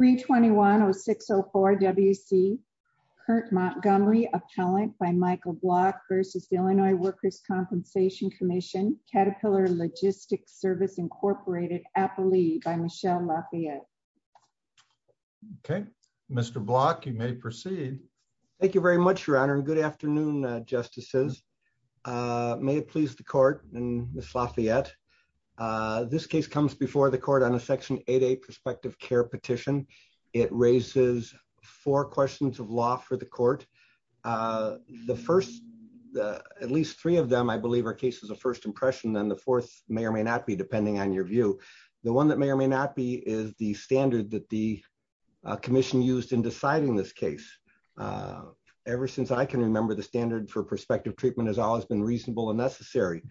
321-0604-WC, Kurt Montgomery, Appellant by Michael Block v. Illinois Workers' Compensation Comm'n, Caterpillar Logistics Service, Inc., Appalee by Michelle Lafayette. Okay, Mr. Block, you may proceed. Thank you very much, Your Honor, and good afternoon, Justices. May it please the Court, and Ms. Lafayette, this case comes before the Court on a Section 8A prospective care petition. It raises four questions of law for the Court. The first, at least three of them, I believe, are cases of first impression, and the fourth may or may not be, depending on your view. The one that may or may not be is the standard that the Commission used in deciding this case. Ever since I can remember, the standard for prospective treatment has always been reasonable and necessary,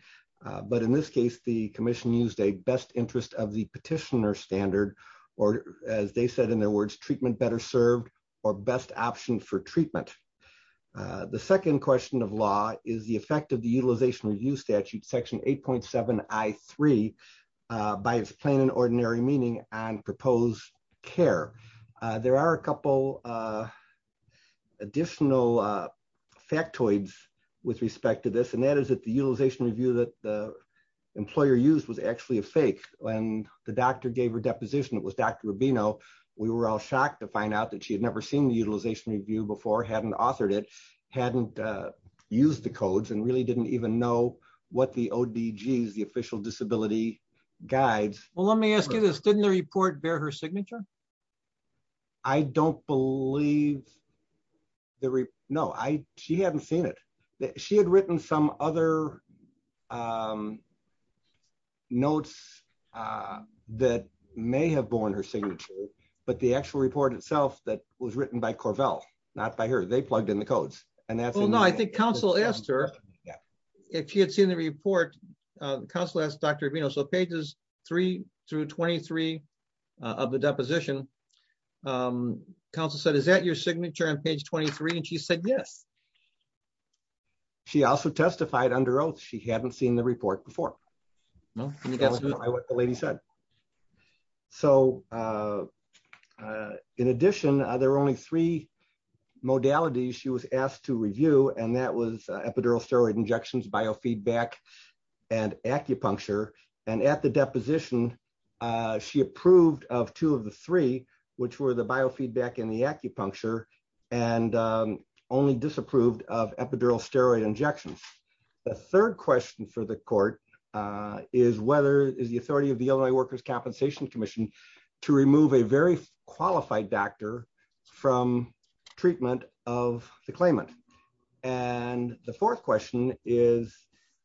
but in this case, the Commission used a interest of the petitioner standard, or as they said in their words, treatment better served, or best option for treatment. The second question of law is the effect of the Utilization Review Statute, Section 8.7I3, by its plain and ordinary meaning, on proposed care. There are a couple additional factoids with respect to this, and that is that the Utilization Review that the when the doctor gave her deposition, it was Dr. Rubino, we were all shocked to find out that she had never seen the Utilization Review before, hadn't authored it, hadn't used the codes, and really didn't even know what the ODGs, the Official Disability Guides. Well, let me ask you this. Didn't the report bear her signature? I don't believe. No, she hadn't seen it. She had some other notes that may have borne her signature, but the actual report itself that was written by Corvell, not by her, they plugged in the codes. Well, no, I think Council asked her if she had seen the report, Council asked Dr. Rubino, so pages 3 through 23 of the deposition, Council said, is that your signature on page 23? And she said yes. She also testified under oath she hadn't seen the report before. No, I think that's what the lady said. So, in addition, there are only three modalities she was asked to review, and that was epidural steroid injections, biofeedback, and acupuncture. And at the deposition, she approved of two of the three, which were the biofeedback and the acupuncture, and only disapproved of epidural steroid injections. The third question for the court is whether, is the authority of the Illinois Workers' Compensation Commission to remove a very qualified doctor from treatment of the claimant? And the fourth question is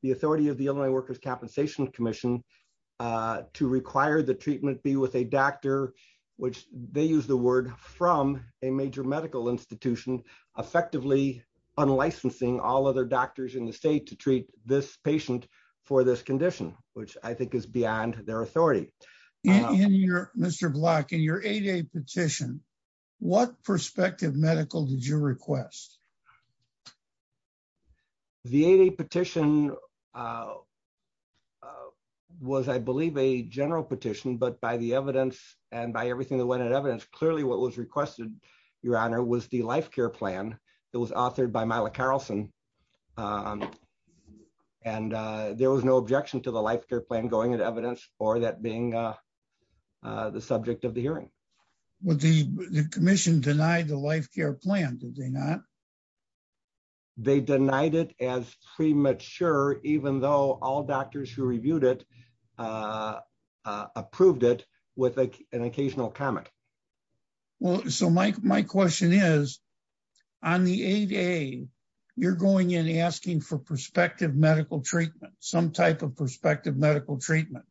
the authority of the Illinois Workers' Compensation Commission to require the treatment be with a doctor, which they use the word, from a major medical institution, effectively unlicensing all other doctors in the state to treat this patient for this condition, which I think is beyond their authority. In your, Mr. Block, in your 8A petition, what prospective medical did you request? The 8A petition was, I believe, a general petition, but by the evidence and by everything that went in evidence, clearly what was requested, Your Honor, was the life care plan that was authored by Myla Carrelson. And there was no objection to the life care plan going in evidence, or that being the subject of the hearing. But the commission denied the life care plan, did they not? They denied it as premature, even though all doctors who reviewed it approved it with an occasional comment. Well, so my question is, on the 8A, you're going in asking for prospective medical treatment, some type of prospective medical treatment.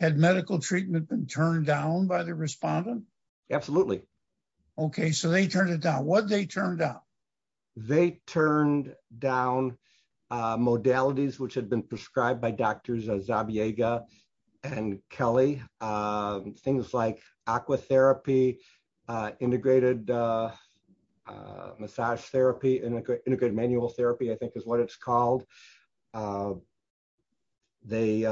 Had medical treatment been turned down by the Absolutely. Okay, so they turned it down. What did they turn down? They turned down modalities which had been prescribed by Drs. Zabiega and Kelly. Things like aqua therapy, integrated massage therapy, and integrated manual therapy, I think is what it's called. There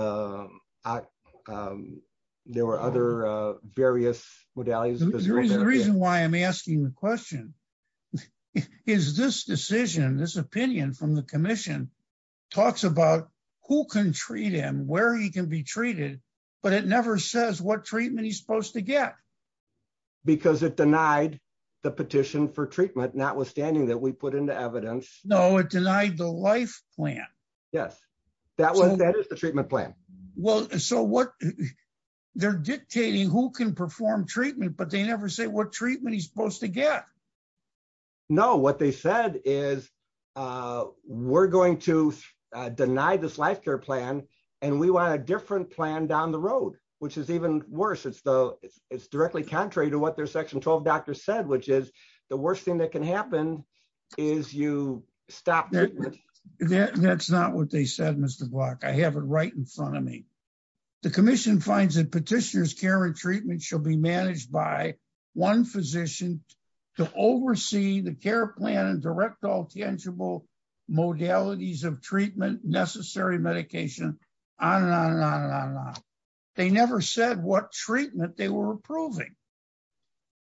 were other various modalities. The reason why I'm asking the question is this decision, this opinion from the commission, talks about who can treat him, where he can be treated, but it never says what treatment he's supposed to get. Because it denied the petition for treatment, notwithstanding that we put into evidence. No, it denied the life plan. Yes, that is the treatment plan. Well, so they're dictating who can perform treatment, but they never say what treatment he's supposed to get. No, what they said is, we're going to deny this life care plan, and we want a different plan down the road, which is even worse. It's directly contrary to what their Section 12 said, which is the worst thing that can happen is you stop treatment. That's not what they said, Mr. Block. I have it right in front of me. The commission finds that petitioners' care and treatment shall be managed by one physician to oversee the care plan and direct all tangible modalities of treatment, necessary medication, on and on and on and on and on. They never said what treatment they were approving.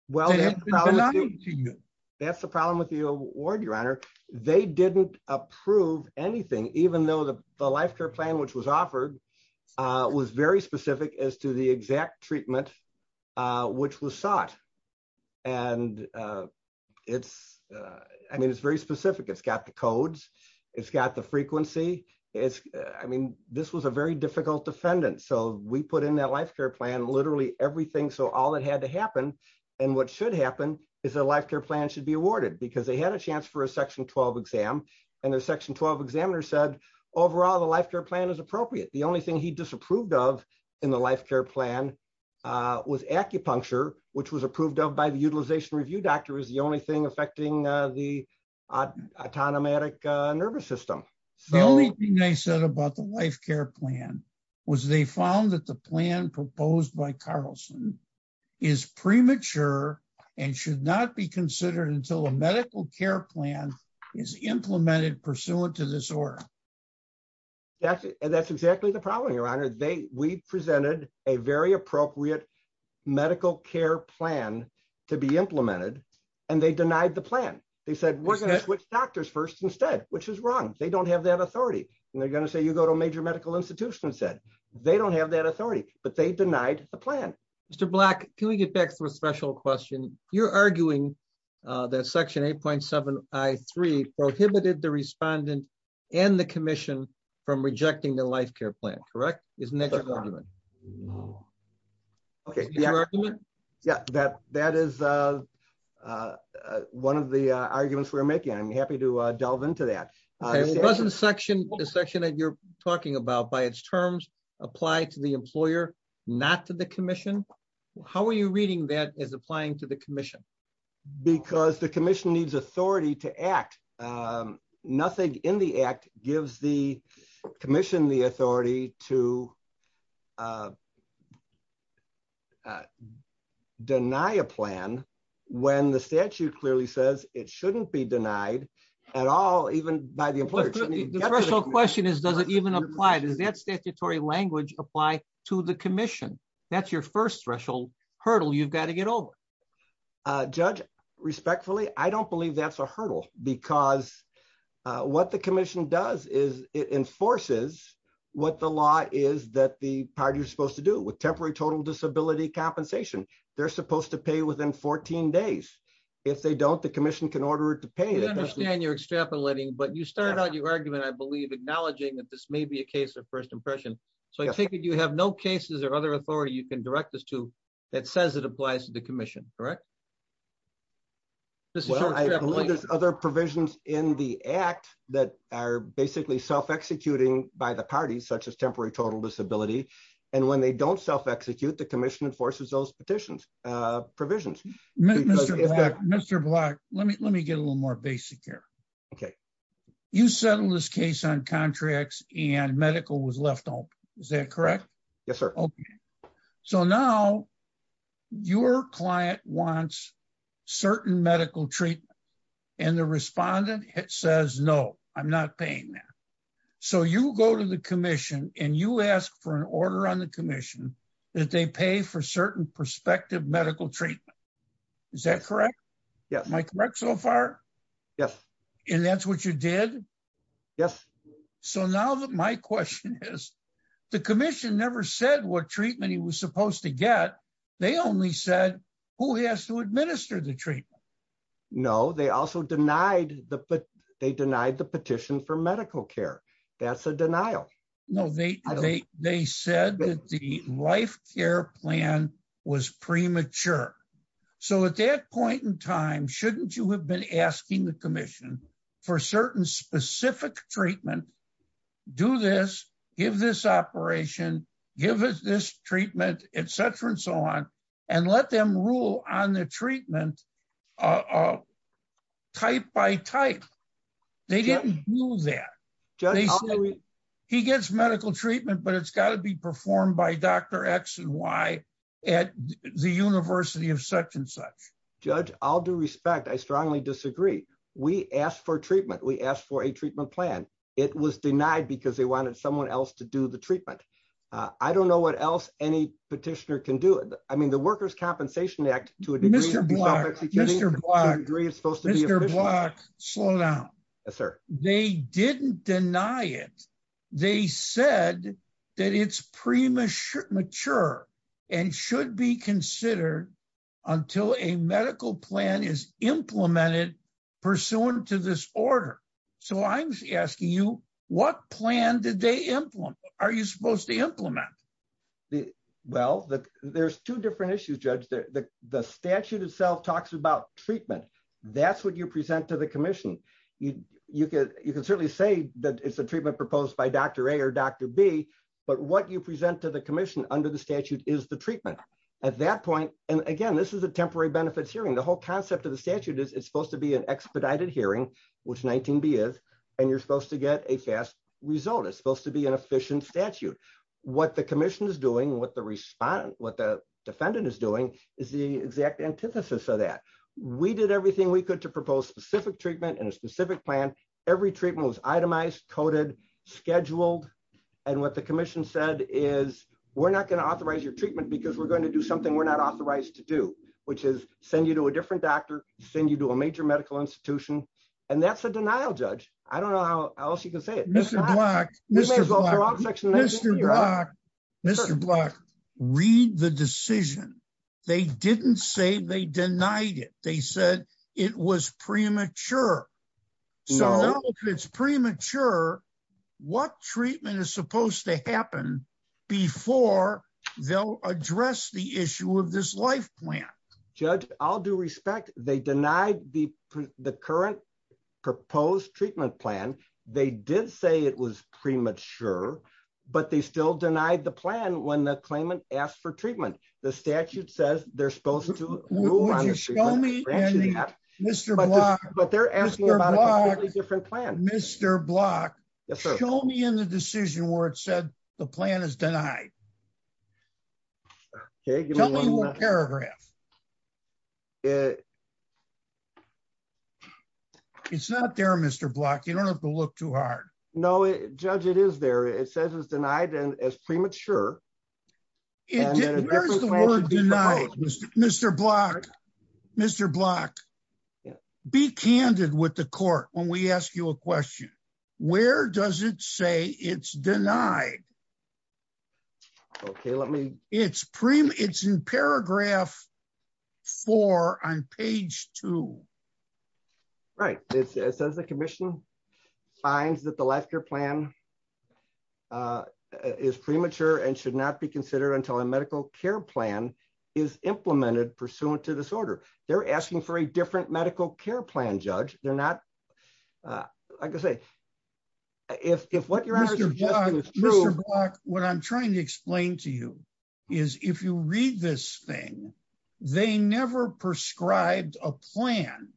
Well, that's the problem with the award, Your Honor. They didn't approve anything, even though the life care plan which was offered was very specific as to the exact treatment which was sought. And it's, I mean, it's very specific. It's got the codes. It's got the frequency. I mean, this was a very difficult defendant, so we put in that life care plan literally everything. So all that had to happen and what should happen is a life care plan should be awarded because they had a chance for a Section 12 exam and their Section 12 examiner said, overall, the life care plan is appropriate. The only thing he disapproved of in the life care plan was acupuncture, which was approved of by the Utilization Review Doctor as the only thing affecting the autonomic nervous system. The only thing they said about the life care plan was they found that the plan proposed by Carlson is premature and should not be considered until a medical care plan is implemented pursuant to this order. That's exactly the problem, Your Honor. We presented a very appropriate medical care plan to be implemented and they denied the plan. They said, we're going to switch doctors first instead, which is wrong. They don't have that authority and they're going to say, you go to a major medical institution and said, they don't have that authority, but they denied the plan. Mr. Black, can we get back to a special question? You're arguing that Section 8.7 I-3 prohibited the respondent and the commission from rejecting the life care plan, correct? Isn't that your argument? Okay, yeah, that is one of the arguments we're making. I'm happy to delve into that. Doesn't the section that you're talking about by its terms apply to the employer, not to the commission? How are you reading that as applying to the commission? Because the commission needs authority to act. Nothing in the act gives the commission the authority to deny a plan when the statute clearly says it shouldn't be denied at all, even by the employer. The special question is, does it even apply? Does that statutory language apply to the commission? That's your first threshold hurdle you've got to get over. Judge, respectfully, I don't believe that's a hurdle because what the commission does is it enforces what the law is that the party is supposed to do with temporary total disability compensation. They're supposed to pay within 14 days. If they don't, the commission can order it to pay. I understand you're extrapolating, but you started out your argument, I believe, acknowledging that this may be a case of first impression. So I take it you have no cases or other authority you can direct this to that says it applies to the commission, correct? Well, I believe there's other provisions in the act that are basically self-executing by the parties, such as temporary total disability. And when they don't self-execute, the commission enforces those petitions provisions. Mr. Block, let me get a little more basic here. Okay. You settled this case on contracts and medical was left out. Is that correct? Yes, sir. So now your client wants certain medical treatment and the respondent says, no, I'm not paying that. So you go to the commission and you ask for an order on the commission that they pay for certain prospective medical treatment. Is that correct? Yes. Am I correct so far? Yes. And that's what you did? Yes. So now that my question is, the commission never said what treatment he was supposed to get. They only said who has to administer the treatment. No, they also denied the, they denied the petition for medical care. That's a denial. No, they said that the life care plan was premature. So at that point in time, shouldn't you have been asking the commission for certain specific treatment, do this, give this operation, give us this treatment, et cetera, and so on, and let them rule on the treatment type by type. They didn't do that. He gets medical treatment, but it's got to be performed by Dr. X and Y at the university of such and such. Judge, I'll do respect. I strongly disagree. We asked for treatment. We asked for a treatment plan. It was denied because they wanted someone else to do the treatment. I don't know what else any petitioner can do. I mean, the workers' compensation act to a degree is supposed to be official. Mr. Block, slow down. Yes, sir. They didn't deny it. They said that it's premature and should be considered until a medical plan is implemented pursuant to this order. So I'm asking you, what plan did they implement? Are you supposed to implement? Well, there's two different issues, Judge. The statute itself talks about treatment. That's what you present to the commission. You can certainly say that it's a treatment proposed by Dr. A or Dr. B, but what you present to the commission under the statute is the treatment. At that point, and again, this is a temporary benefits hearing. The whole concept of the statute is it's supposed to be an expedited hearing, which 19B is, and you're supposed to get a fast result. It's supposed to be an efficient statute. What the commission is doing, what the defendant is doing is the exact antithesis of that. We did everything we could to propose specific treatment and a specific plan. Every treatment was itemized, coded, scheduled. And what the commission said is, we're not going to authorize your treatment because we're going to do something we're not authorized to do, which is send you to a different doctor, send you to a major medical institution. And that's a denial, Judge. I don't know how else you can say it. Mr. Block, read the decision. They didn't say they denied it. They said it was premature. So if it's premature, what treatment is supposed to happen before they'll address the issue of this life plan? Judge, all due respect, they denied the current proposed treatment plan. They did say it was premature, but they still denied the plan when the claimant asked for treatment. The statute says they're supposed to move on. Would you show me, Mr. Block? But they're asking about a completely different plan. Mr. Block, show me in the decision where it said the plan is denied. Tell me one paragraph. It's not there, Mr. Block. You don't have to look too hard. No, Judge, it is there. It says it's denied as premature. Where's the word denied, Mr. Block? Mr. Block, be candid with the court when we ask you a question. Where does it say it's denied? Okay, let me... It's in paragraph four on page two. Right. It says the commission finds that the life care plan is premature and should not be considered until a medical care plan is implemented pursuant to this order. They're asking for a different medical care plan, Judge. They're not... Like I say, if what you're asking is true... Mr. Block, what I'm trying to explain to you is if you read this thing, they never prescribed a plan.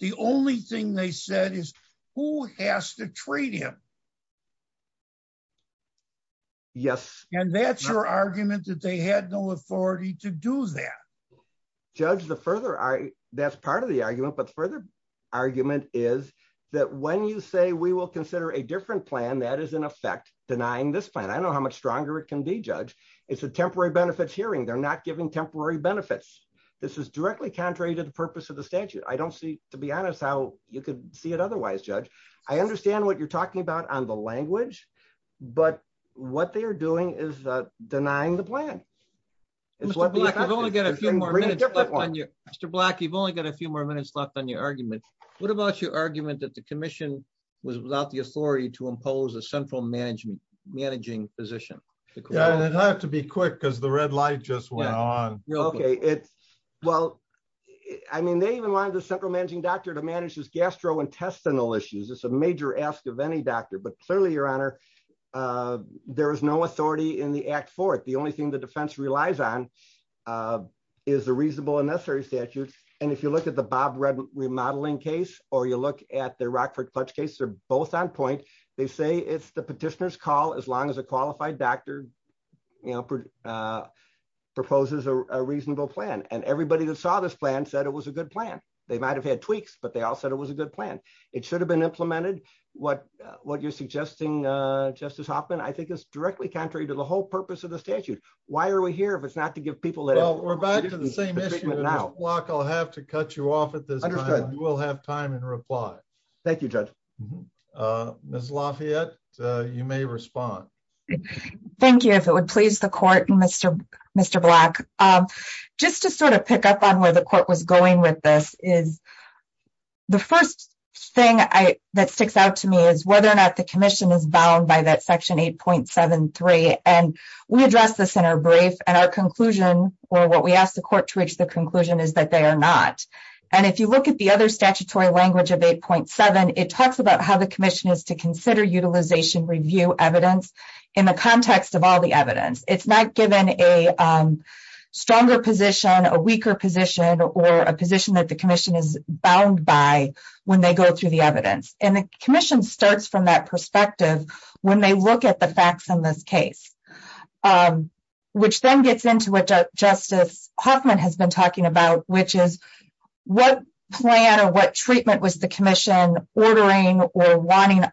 The only thing they said is who has to treat him. Yes. And that's your argument that they had no authority to do that. Judge, that's part of the argument. But further argument is that when you say we will consider a different plan, that is in effect denying this plan. I don't know how much stronger it can be, Judge. It's a temporary benefits hearing. They're not giving temporary benefits. This is directly contrary to the purpose of the statute. I don't see, to be honest, how you could see it otherwise, Judge. I understand what you're talking about on the language, but what they are doing is denying the plan. Mr. Block, you've only got a few more minutes left on your argument. What about your argument that the commission was without the authority to impose a central managing position? It had to be quick because the red light just went on. OK, well, I mean, they even wanted the central managing doctor to manage his gastrointestinal issues. It's a major ask of any doctor. But clearly, Your Honor, there is no authority in the act for it. The only thing the defense relies on is a reasonable and necessary statute. And if you look at the Bob Red remodeling case or you look at the Rockford clutch case, they're both on point. They say it's the petitioner's call as long as a qualified doctor proposes a reasonable plan. And everybody that saw this plan said it was a good plan. They might have had tweaks, but they all said it was a good plan. It should have been implemented. What you're suggesting, Justice Hoffman, I think is directly contrary to the whole purpose of the statute. Why are we here if it's not to give people that? Well, we're back to the same issue now. Block, I'll have to cut you off at this time. You will have time in reply. Thank you, Judge. Uh, Miss Lafayette, you may respond. Thank you. If it would please the court, Mr. Mr. Black, just to sort of pick up on where the court was going with this is the first thing that sticks out to me is whether or not the commission is bound by that section 8.73. And we address this in our brief and our conclusion or what we ask the court to reach the conclusion is that they are not. And if you look at the other statutory language of 8.7, it talks about how the commission is to consider utilization review evidence in the context of all the evidence. It's not given a stronger position, a weaker position, or a position that the commission is bound by when they go through the evidence. And the commission starts from that perspective when they look at the facts in this case, um, which then gets into what Justice Hoffman has been talking about, which is what plan or what treatment was the commission ordering or wanting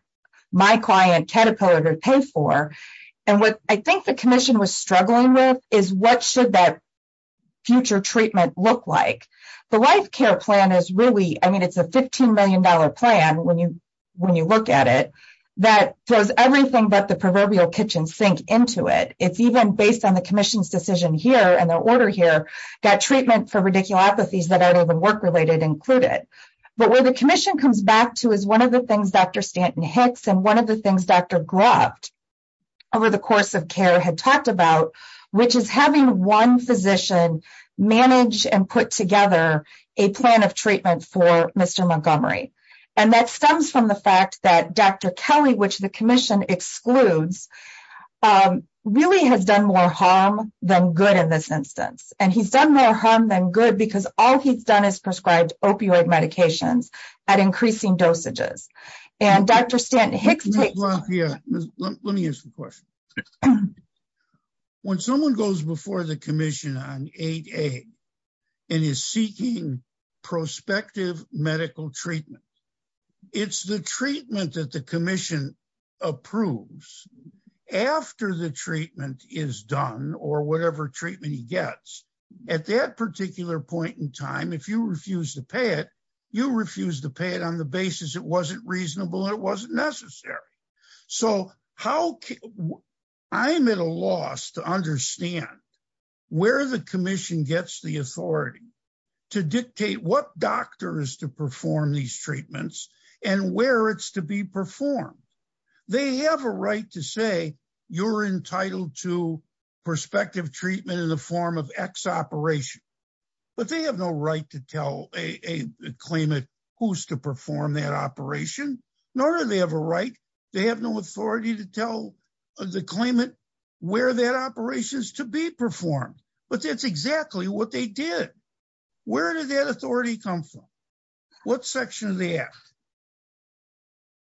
my client caterpillar to pay for. And what I think the commission was struggling with is what should that future treatment look like. The life care plan is really, I mean, it's a $15 million plan when you, when you look at it, that throws everything but the proverbial kitchen sink into it. It's even based on the commission's decision here and their order here, that treatment for radiculopathies that aren't even work-related included. But where the commission comes back to is one of the things Dr. Stanton-Hicks and one of the things Dr. Gruft over the course of care had talked about, which is having one physician manage and put together a plan of treatment for Mr. Montgomery. And that stems from the fact that Dr. Kelly, which the commission excludes, um, really has done more harm than good in this instance. And he's done more harm than good because all he's done is prescribed opioid medications at increasing dosages. And Dr. Stanton-Hicks. Well, yeah, let me ask you a question. When someone goes before the commission on 8A and is seeking prospective medical treatment, it's the treatment that the commission approves after the treatment is done or whatever treatment he gets at that particular point in time. If you refuse to pay it, you refuse to pay it on the basis it wasn't reasonable and it wasn't necessary. So how I'm at a loss to understand where the commission gets the authority to dictate what doctor is to perform these treatments and where it's to be performed. They have a right to say you're entitled to prospective treatment in the form of X operation, but they have no right to tell a claimant who's to perform that operation. Nor do they have a right. They have no authority to tell the claimant where that operation is to be performed. But that's exactly what they did. Where did that authority come from? What section of the act?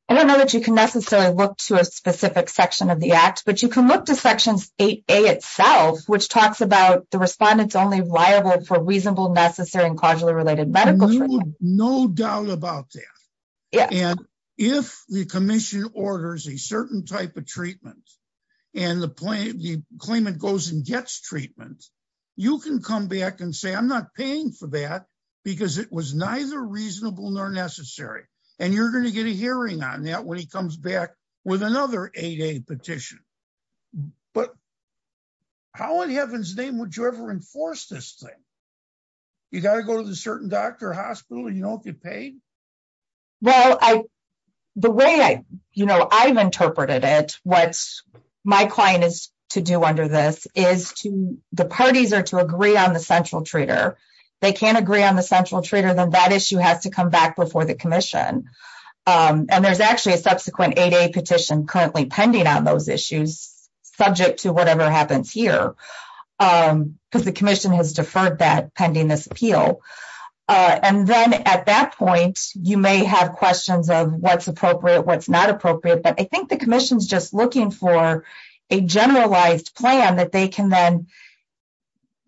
I don't know that you can necessarily look to a specific section of the act, but you can look to sections 8A itself, which talks about the respondents only liable for reasonable, necessary, and quadruly related medical treatment. No doubt about that. And if the commission orders a certain type of treatment and the claimant goes and gets treatment, you can come back and say, I'm not paying for that because it was neither reasonable nor necessary. And you're going to get a hearing on that when he comes back with another 8A petition. But how in heaven's name would you ever enforce this thing? You got to go to the certain doctor or hospital and you don't get paid? Well, the way I've interpreted it, what my client is to do under this is the parties are to agree on the central treater. They can't agree on the central treater, then that issue has to come back before the commission. And there's actually a subsequent 8A petition currently pending on those issues, subject to whatever happens here, because the commission has deferred that pending this appeal. And then at that point, you may have questions of what's appropriate, what's not appropriate. But I think the commission's just looking for a generalized plan that they can then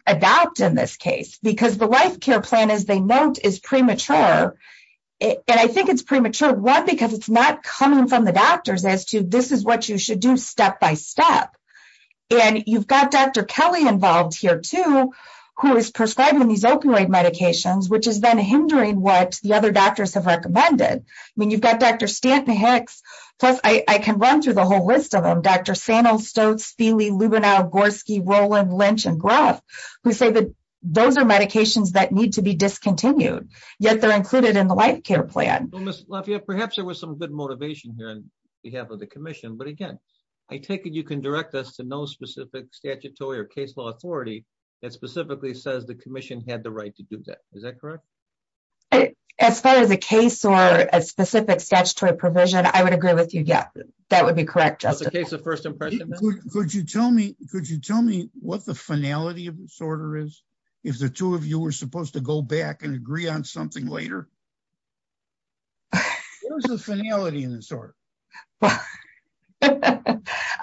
adopt in this case, because the life care plan, as they note, is premature. And I think it's premature, one, because it's not coming from the doctors as to this is what you should do step by step. And you've got Dr. Kelly involved here, too, who is prescribing these opioid medications, which is then hindering what the other doctors have recommended. I mean, you've got Dr. Stanton-Hicks. Plus, I can run through the whole list of them, Dr. Sano, Stokes, Feeley, Lubenow, Gorski, Roland, Lynch, and Gruff, who say that those are medications that need to be discontinued, yet they're included in the life care plan. Well, Ms. Lafayette, perhaps there was some good motivation here on behalf of the commission. But again, I take it you can direct us to no specific statutory or case law authority that specifically says the commission had the right to do that. Is that correct? As far as a case or a specific statutory provision, I would agree with you. Yeah, that would be correct, Justice. As a case of first impression, then? Could you tell me what the finality of this order is? If the two of you were supposed to go back and agree on something later? What was the finality in this order? I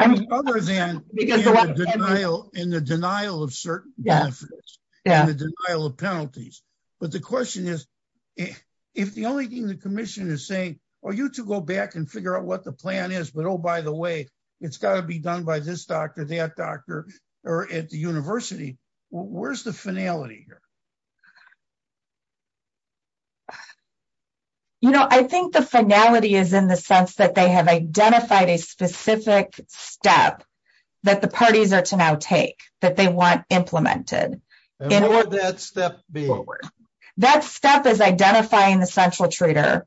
mean, other than in the denial of certain benefits and the denial of penalties. But the question is, if the only thing the commission is saying, are you to go back and figure out what the plan is? But oh, by the way, it's got to be done by this doctor, that doctor, or at the university. Where's the finality here? You know, I think the finality is in the sense that they have identified a specific step that the parties are to now take, that they want implemented. And what would that step be? That step is identifying the central treater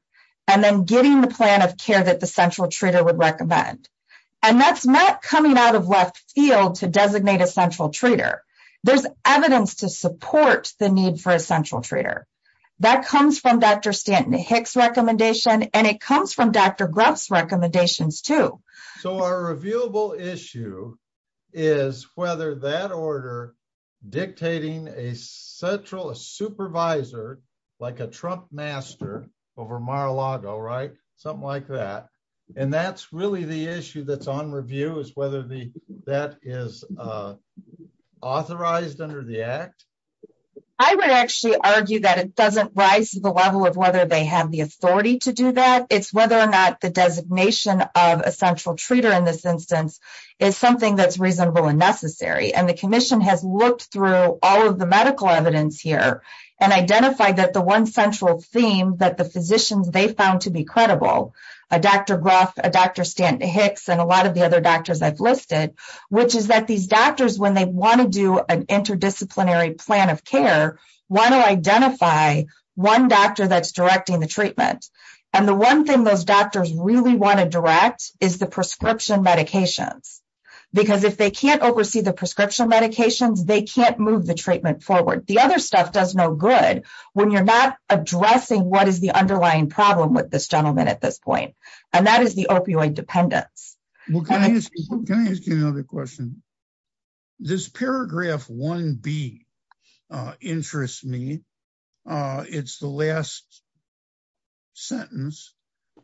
and then getting the plan of care that the central treater would recommend. And that's not coming out of left field to designate a central treater. There's evidence to support the need for a central treater. That comes from Dr. Stanton-Hicks recommendation. And it comes from Dr. Grubb's recommendations too. So our reviewable issue is whether that order dictating a central supervisor, like a Trump master over Mar-a-Lago, right? Something like that. And that's really the issue that's on review is whether that is authorized under the act. I would actually argue that it doesn't rise to the level of whether they have the authority to do that. It's whether or not the designation of a central treater in this instance is something that's reasonable and necessary. And the commission has looked through all of the medical evidence here and identified that the one central theme that the physicians they found to be credible, Dr. Grubb, Dr. Stanton-Hicks, and a lot of the other doctors I've listed, which is that these doctors, when they want to do an interdisciplinary plan of care, want to identify one doctor that's directing the treatment. And the one thing those doctors really want to direct is the prescription medications. Because if they can't oversee the prescription medications, they can't move the treatment forward. The other stuff does no good when you're not addressing what is the underlying problem with this gentleman at this point. And that is the opioid dependence. Can I ask you another question? This paragraph 1B interests me. It's the last sentence.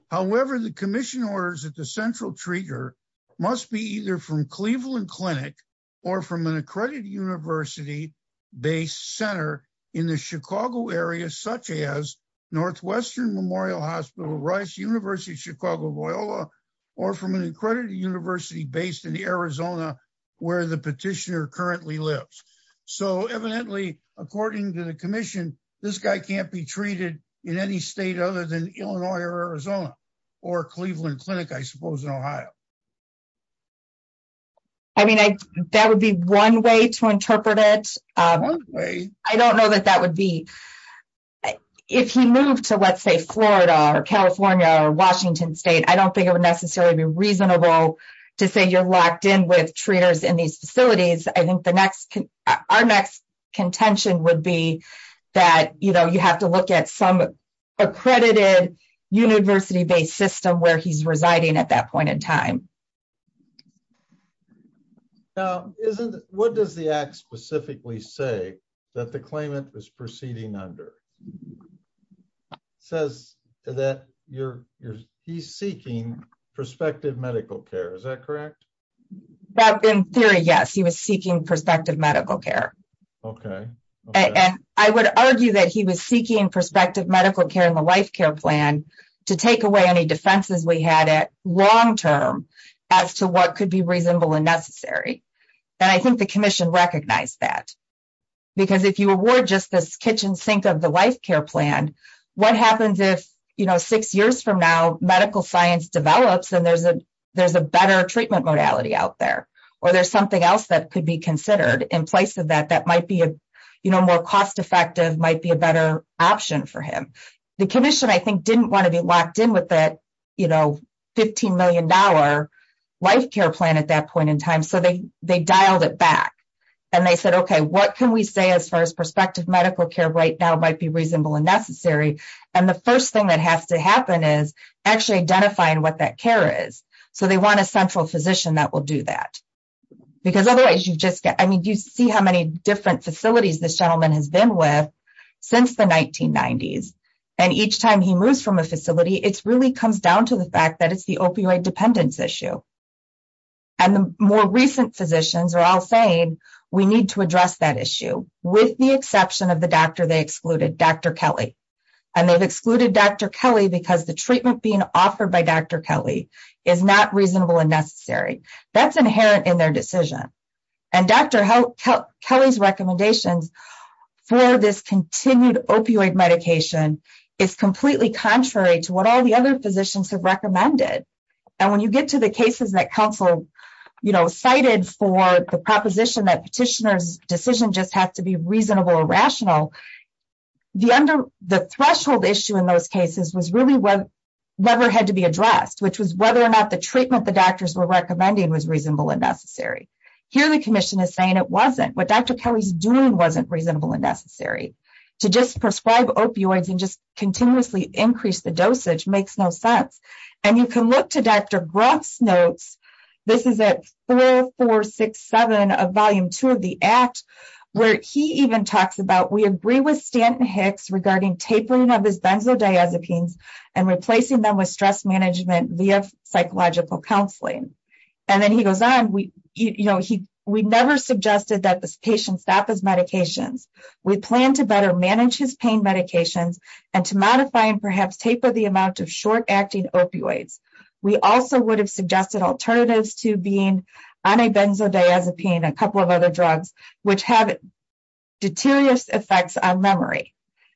However, the commission orders that the central treater must be either from Cleveland Clinic or from an accredited university-based center in the Chicago area, such as Northwestern Memorial Hospital, Rice University, Chicago, Loyola, or from an accredited university based in Arizona, where the petitioner currently lives. So evidently, according to the commission, this guy can't be treated in any state other than Illinois or Arizona, or Cleveland Clinic, I suppose, in Ohio. I mean, that would be one way to interpret it. I don't know that that would be. If he moved to, let's say, Florida or California or Washington state, I don't think it would necessarily be reasonable to say you're locked in with treaters in these facilities. I think our next contention would be that you have to look at some accredited university based system where he's residing at that point in time. Now, what does the act specifically say that the claimant is proceeding under? It says that he's seeking prospective medical care. Is that correct? Well, in theory, yes. He was seeking prospective medical care. OK. I would argue that he was seeking prospective medical care in the life care plan to take away any defenses we had at long term as to what could be reasonable and necessary. And I think the commission recognized that. Because if you award just this kitchen sink of the life care plan, what happens if, you know, six years from now, medical science develops and there's a better treatment modality out there? Or there's something else that could be considered in place of that that might be more cost effective, might be a better option for him. The commission, I think, didn't want to be locked in with that, you know, 15 million dollar life care plan at that point in time. So they they dialed it back and they said, OK, what can we say as far as prospective medical care right now might be reasonable and necessary? And the first thing that has to happen is actually identifying what that care is. So they want a central physician that will do that because otherwise you just get I mean, you see how many different facilities this gentleman has been with since the 1990s. And each time he moves from a facility, it's really comes down to the fact that it's the opioid dependence issue. And the more recent physicians are all saying we need to address that issue with the exception of the doctor they excluded, Dr. Kelly, and they've excluded Dr. Kelly because the treatment being offered by Dr. Kelly is not reasonable and necessary. That's inherent in their decision. And Dr. Kelly's recommendations for this continued opioid medication is completely contrary to what all the other physicians have recommended. And when you get to the cases that counsel cited for the proposition that petitioner's decision just have to be reasonable or rational, the threshold issue in those cases was really never had to be addressed, which was whether or not the treatment the doctors were recommending was reasonable and necessary. Here, the commission is saying it wasn't what Dr. Kelly's doing wasn't reasonable and necessary. To just prescribe opioids and just continuously increase the dosage makes no sense. And you can look to Dr. Groth's notes. This is at 4467 of volume two of the act, where he even talks about we agree with Stanton Hicks regarding tapering of his benzodiazepines and replacing them with stress management via psychological counseling. And then he goes on. We never suggested that this patient stop his medications. We plan to better manage his pain medications and to modify and perhaps taper the amount of short-acting opioids. We also would have suggested alternatives to being on a benzodiazepine, a couple of other drugs, which have deteriorous effects on memory.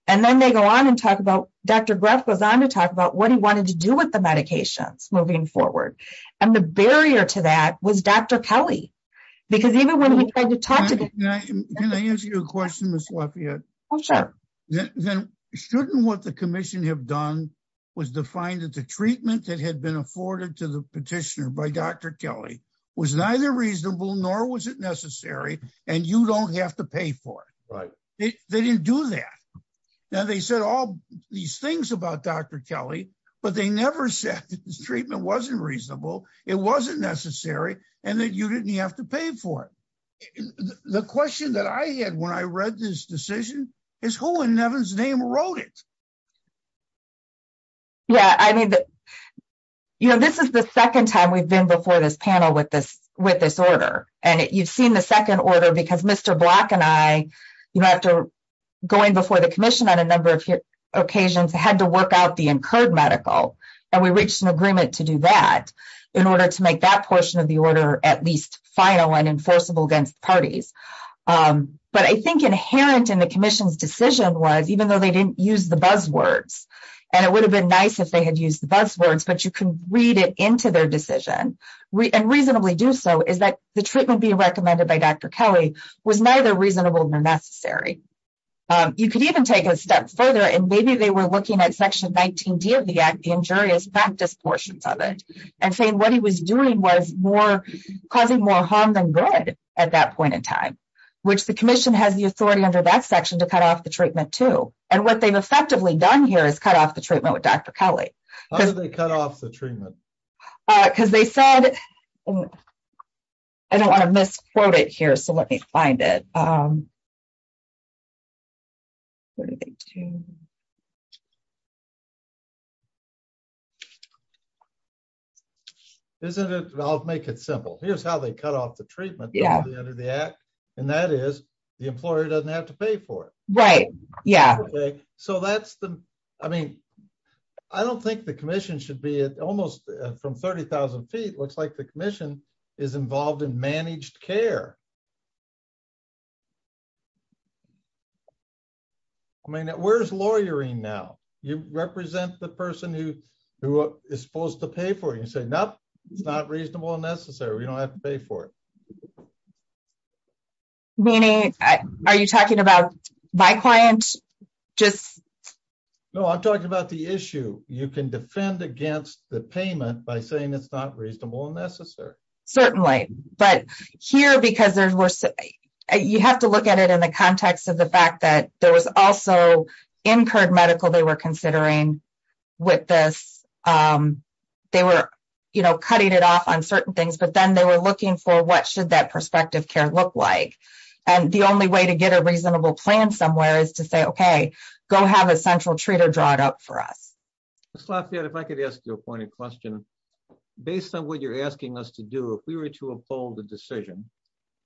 And then they go on and talk about Dr. Groth goes on to talk about what he wanted to do with the medications moving forward. And the barrier to that was Dr. Kelly. Because even when he tried to talk to me. Can I ask you a question, Ms. Lafayette? Oh, sure. Then shouldn't what the commission have done was defined that the treatment that had been afforded to the petitioner by Dr. Kelly was neither reasonable, nor was it necessary. And you don't have to pay for it. Right. They didn't do that. Now, they said all these things about Dr. Kelly, but they never said this treatment wasn't reasonable, it wasn't necessary, and that you didn't have to pay for it. The question that I had when I read this decision is who in heaven's name wrote it. Yeah, I mean, you know, this is the second time we've been before this panel with this with this order, and you've seen the second order because Mr. Black and I, you know, after going before the commission on a number of occasions had to work out the incurred medical, and we reached an agreement to do that in order to make that portion of the order at least final and enforceable against parties. But I think inherent in the commission's decision was even though they didn't use the buzzwords, and it would have been nice if they had used the buzzwords, but you can read it into their decision and reasonably do so is that the treatment being recommended by Dr. Kelly was neither reasonable, nor necessary. You could even take a step further and maybe they were looking at section 19 D of the act the injurious practice portions of it, and saying what he was doing was more causing more harm than good. At that point in time, which the commission has the authority under that section to cut off the treatment to, and what they've effectively done here is cut off the treatment with Dr. Kelly, cut off the treatment, because they said, I don't want to misquote it here so let me find it. What do they do. Isn't it, I'll make it simple. Here's how they cut off the treatment. Yeah, under the act. And that is the employer doesn't have to pay for it. Right. Yeah. So that's the. I mean, I don't think the commission should be at almost from 30,000 feet looks like the I mean, where's lawyering now, you represent the person who, who is supposed to pay for you say no, it's not reasonable and necessary we don't have to pay for it. Meaning, are you talking about my client, just know I'm talking about the issue, you can defend against the payment by saying it's not reasonable and necessary. Certainly, but here because there's worse. You have to look at it in the context of the fact that there was also incurred medical they were considering with this. They were, you know, cutting it off on certain things but then they were looking for what should that perspective care look like. And the only way to get a reasonable plan somewhere is to say okay, go have a central treat or draw it up for us. If I could ask you a point of question. Based on what you're asking us to do if we were to uphold the decision.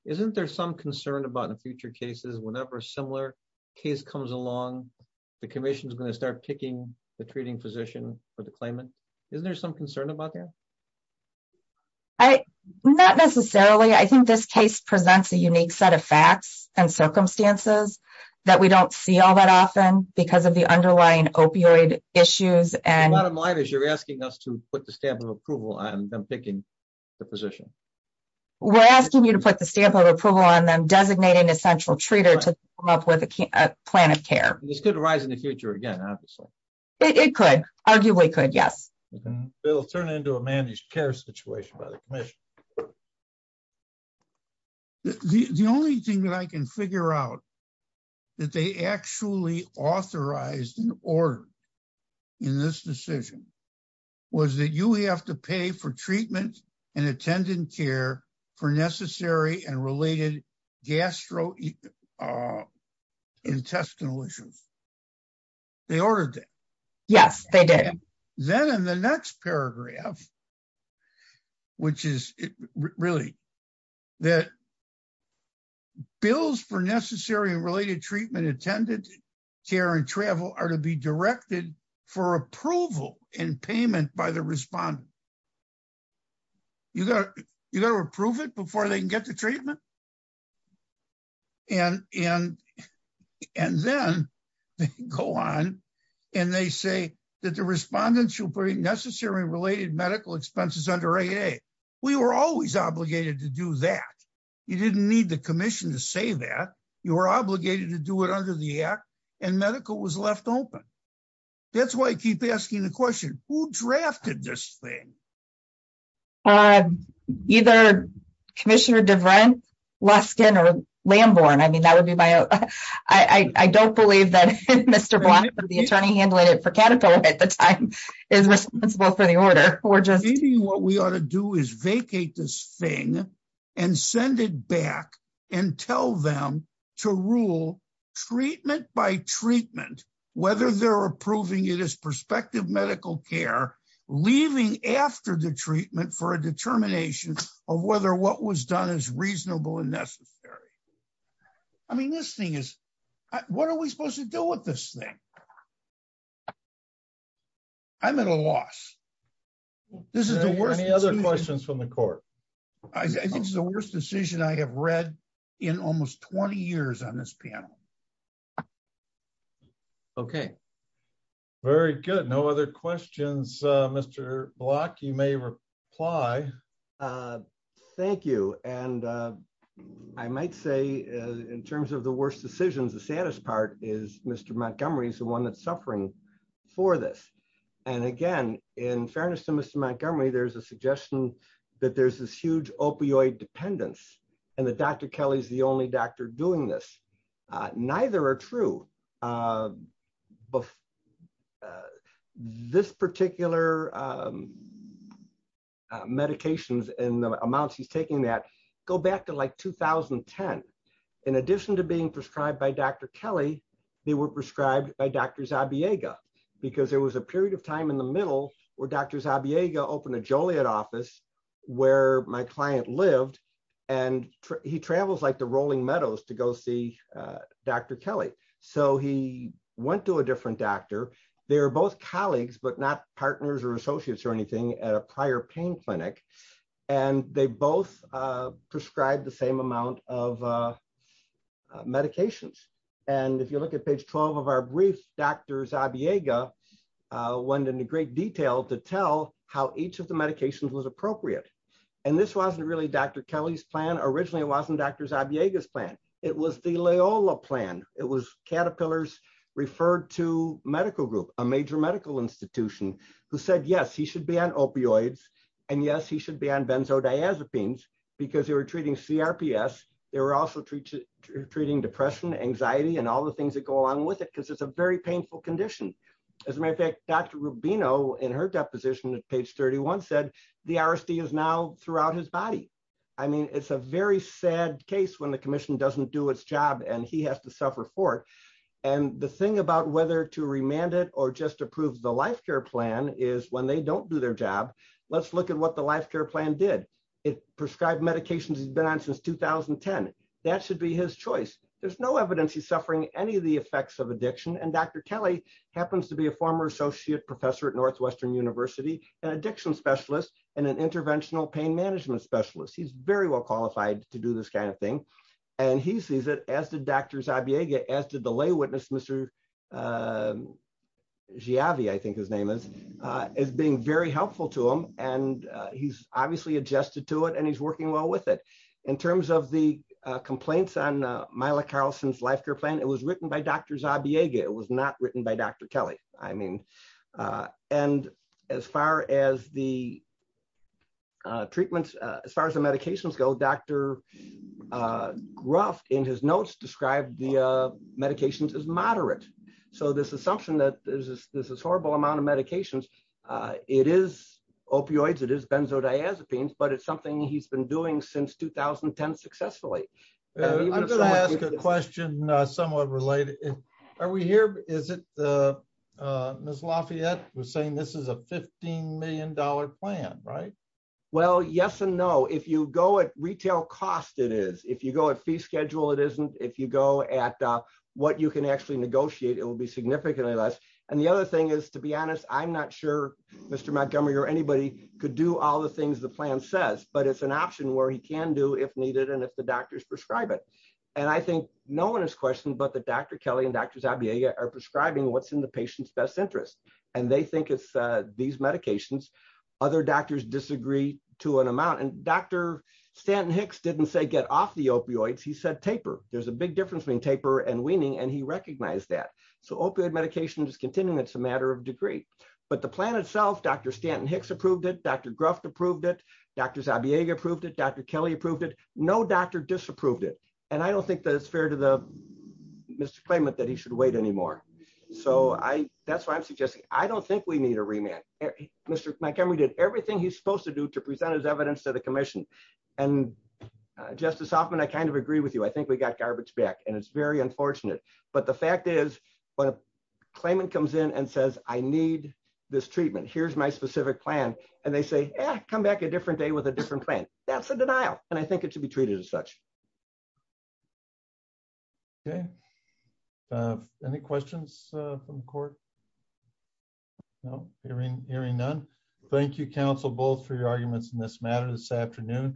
Isn't there some concern about in future cases whenever similar case comes along the commission's going to start picking the treating physician for the claimant. Isn't there some concern about that. I not necessarily I think this case presents a unique set of facts and circumstances that we don't see all that often because of the underlying opioid issues and you're asking us to put the stamp of approval on them picking the position. We're asking you to put the stamp of approval on them designating a central treater to come up with a plan of care, this could arise in the future again. It could arguably could yes. It'll turn into a managed care situation by the commission. The only thing that I can figure out that they actually authorized and ordered in this decision was that you have to pay for treatment and attendant care for necessary and related gastro intestinal issues. They ordered that. Yes, they did. Then in the next paragraph, which is really that bills for necessary and related treatment attendant care and travel are to be directed for approval and payment by the respondent. You got to approve it before they can get the treatment. And then they go on and they say that the respondents should bring necessary related medical expenses under 8a. We were always obligated to do that. You didn't need the commission to say that you were obligated to do it under the act and medical was left open. That's why I keep asking the question, who drafted this thing? Either Commissioner Devran, Luskin or Lamborn. I mean, that would be my I don't believe that Mr. Blunt, the attorney handling it for Caterpillar at the time is responsible for the order or just what we ought to do is vacate this thing and send it back and tell them to rule treatment by treatment, whether they're approving it as prospective medical care, leaving after the treatment for a determination of whether what was done is reasonable and necessary. I mean, this thing is what are we supposed to do with this thing? I'm at a loss. This is the worst. Any other questions from the court? I think it's the worst decision I have read in almost 20 years on this panel. Okay, very good. No other questions. Mr. Block, you may reply. Uh, thank you. And I might say in terms of the worst decisions, the saddest part is Mr. Montgomery is the one that's suffering for this. And again, in fairness to Mr. Montgomery, there's a suggestion that there's this huge opioid dependence and that Dr. Kelly is the amounts he's taking that go back to like 2010. In addition to being prescribed by Dr. Kelly, they were prescribed by Dr. Zabiega because there was a period of time in the middle where Dr. Zabiega opened a Joliet office where my client lived and he travels like the rolling meadows to go see Dr. Kelly. So he went to a different doctor. They were both colleagues, but not partners or associates or anything at a prior pain clinic. And they both prescribed the same amount of medications. And if you look at page 12 of our brief, Dr. Zabiega went into great detail to tell how each of the medications was appropriate. And this wasn't really Dr. Kelly's plan. Originally it wasn't Dr. Zabiega's plan. It was the Loyola plan. It was Caterpillars referred to medical group, a major medical institution who said, yes, he should be on opioids. And yes, he should be on benzodiazepines because they were treating CRPS. They were also treating depression, anxiety, and all the things that go along with it because it's a very painful condition. As a matter of fact, Dr. Rubino in her deposition at page 31 said the RSD is now throughout his body. I mean, it's a very sad case when the commission doesn't do its job and he has to the thing about whether to remand it or just approve the life care plan is when they don't do their job. Let's look at what the life care plan did. It prescribed medications he's been on since 2010. That should be his choice. There's no evidence he's suffering any of the effects of addiction. And Dr. Kelly happens to be a former associate professor at Northwestern University, an addiction specialist and an interventional pain management specialist. He's very well qualified to do this kind of thing. And he sees it as did Dr. Zabiega, as did the lay witness, Mr. Javi, I think his name is, is being very helpful to him. And he's obviously adjusted to it and he's working well with it. In terms of the complaints on Myla Carlson's life care plan, it was written by Dr. Zabiega. It was not written by Dr. Kelly. I mean, and as far as the treatments, as far as the medications go, Dr. Gruff in his notes described the medications as moderate. So this assumption that there's this horrible amount of medications, it is opioids, it is benzodiazepines, but it's something he's been doing since 2010 successfully. I'm going to ask a question somewhat related. Are we here? Is it the Ms. Lafayette was saying this is a $15 million plan, right? Well, yes and no. If you go at retail cost, it is, if you go at fee schedule, it isn't, if you go at what you can actually negotiate, it will be significantly less. And the other thing is to be honest, I'm not sure Mr. Montgomery or anybody could do all the things the plan says, but it's an option where he can do if needed. And if the doctors prescribe it, and I think no one has questioned, but the Dr. Kelly and Dr. are prescribing what's in the patient's best interest. And they think it's these medications, other doctors disagree to an amount. And Dr. Stanton Hicks didn't say get off the opioids. He said taper. There's a big difference between taper and weaning. And he recognized that. So opioid medication is continuing. It's a matter of degree, but the plan itself, Dr. Stanton Hicks approved it. Dr. Gruff approved it. Dr. Zabiega approved it. Dr. Kelly approved it. No doctor disapproved it. And I don't think that it's fair to the claimant that he should wait anymore. So that's why I'm suggesting, I don't think we need a remand. Mr. Montgomery did everything he's supposed to do to present his evidence to the commission. And Justice Hoffman, I kind of agree with you. I think we got garbage back and it's very unfortunate. But the fact is, when a claimant comes in and says, I need this treatment, here's my specific plan. And they say, come back a different day with a different plan. That's a denial. And I think it should be treated as such. Okay. Any questions from the court? No. Hearing none. Thank you, counsel, both for your arguments in this matter this afternoon.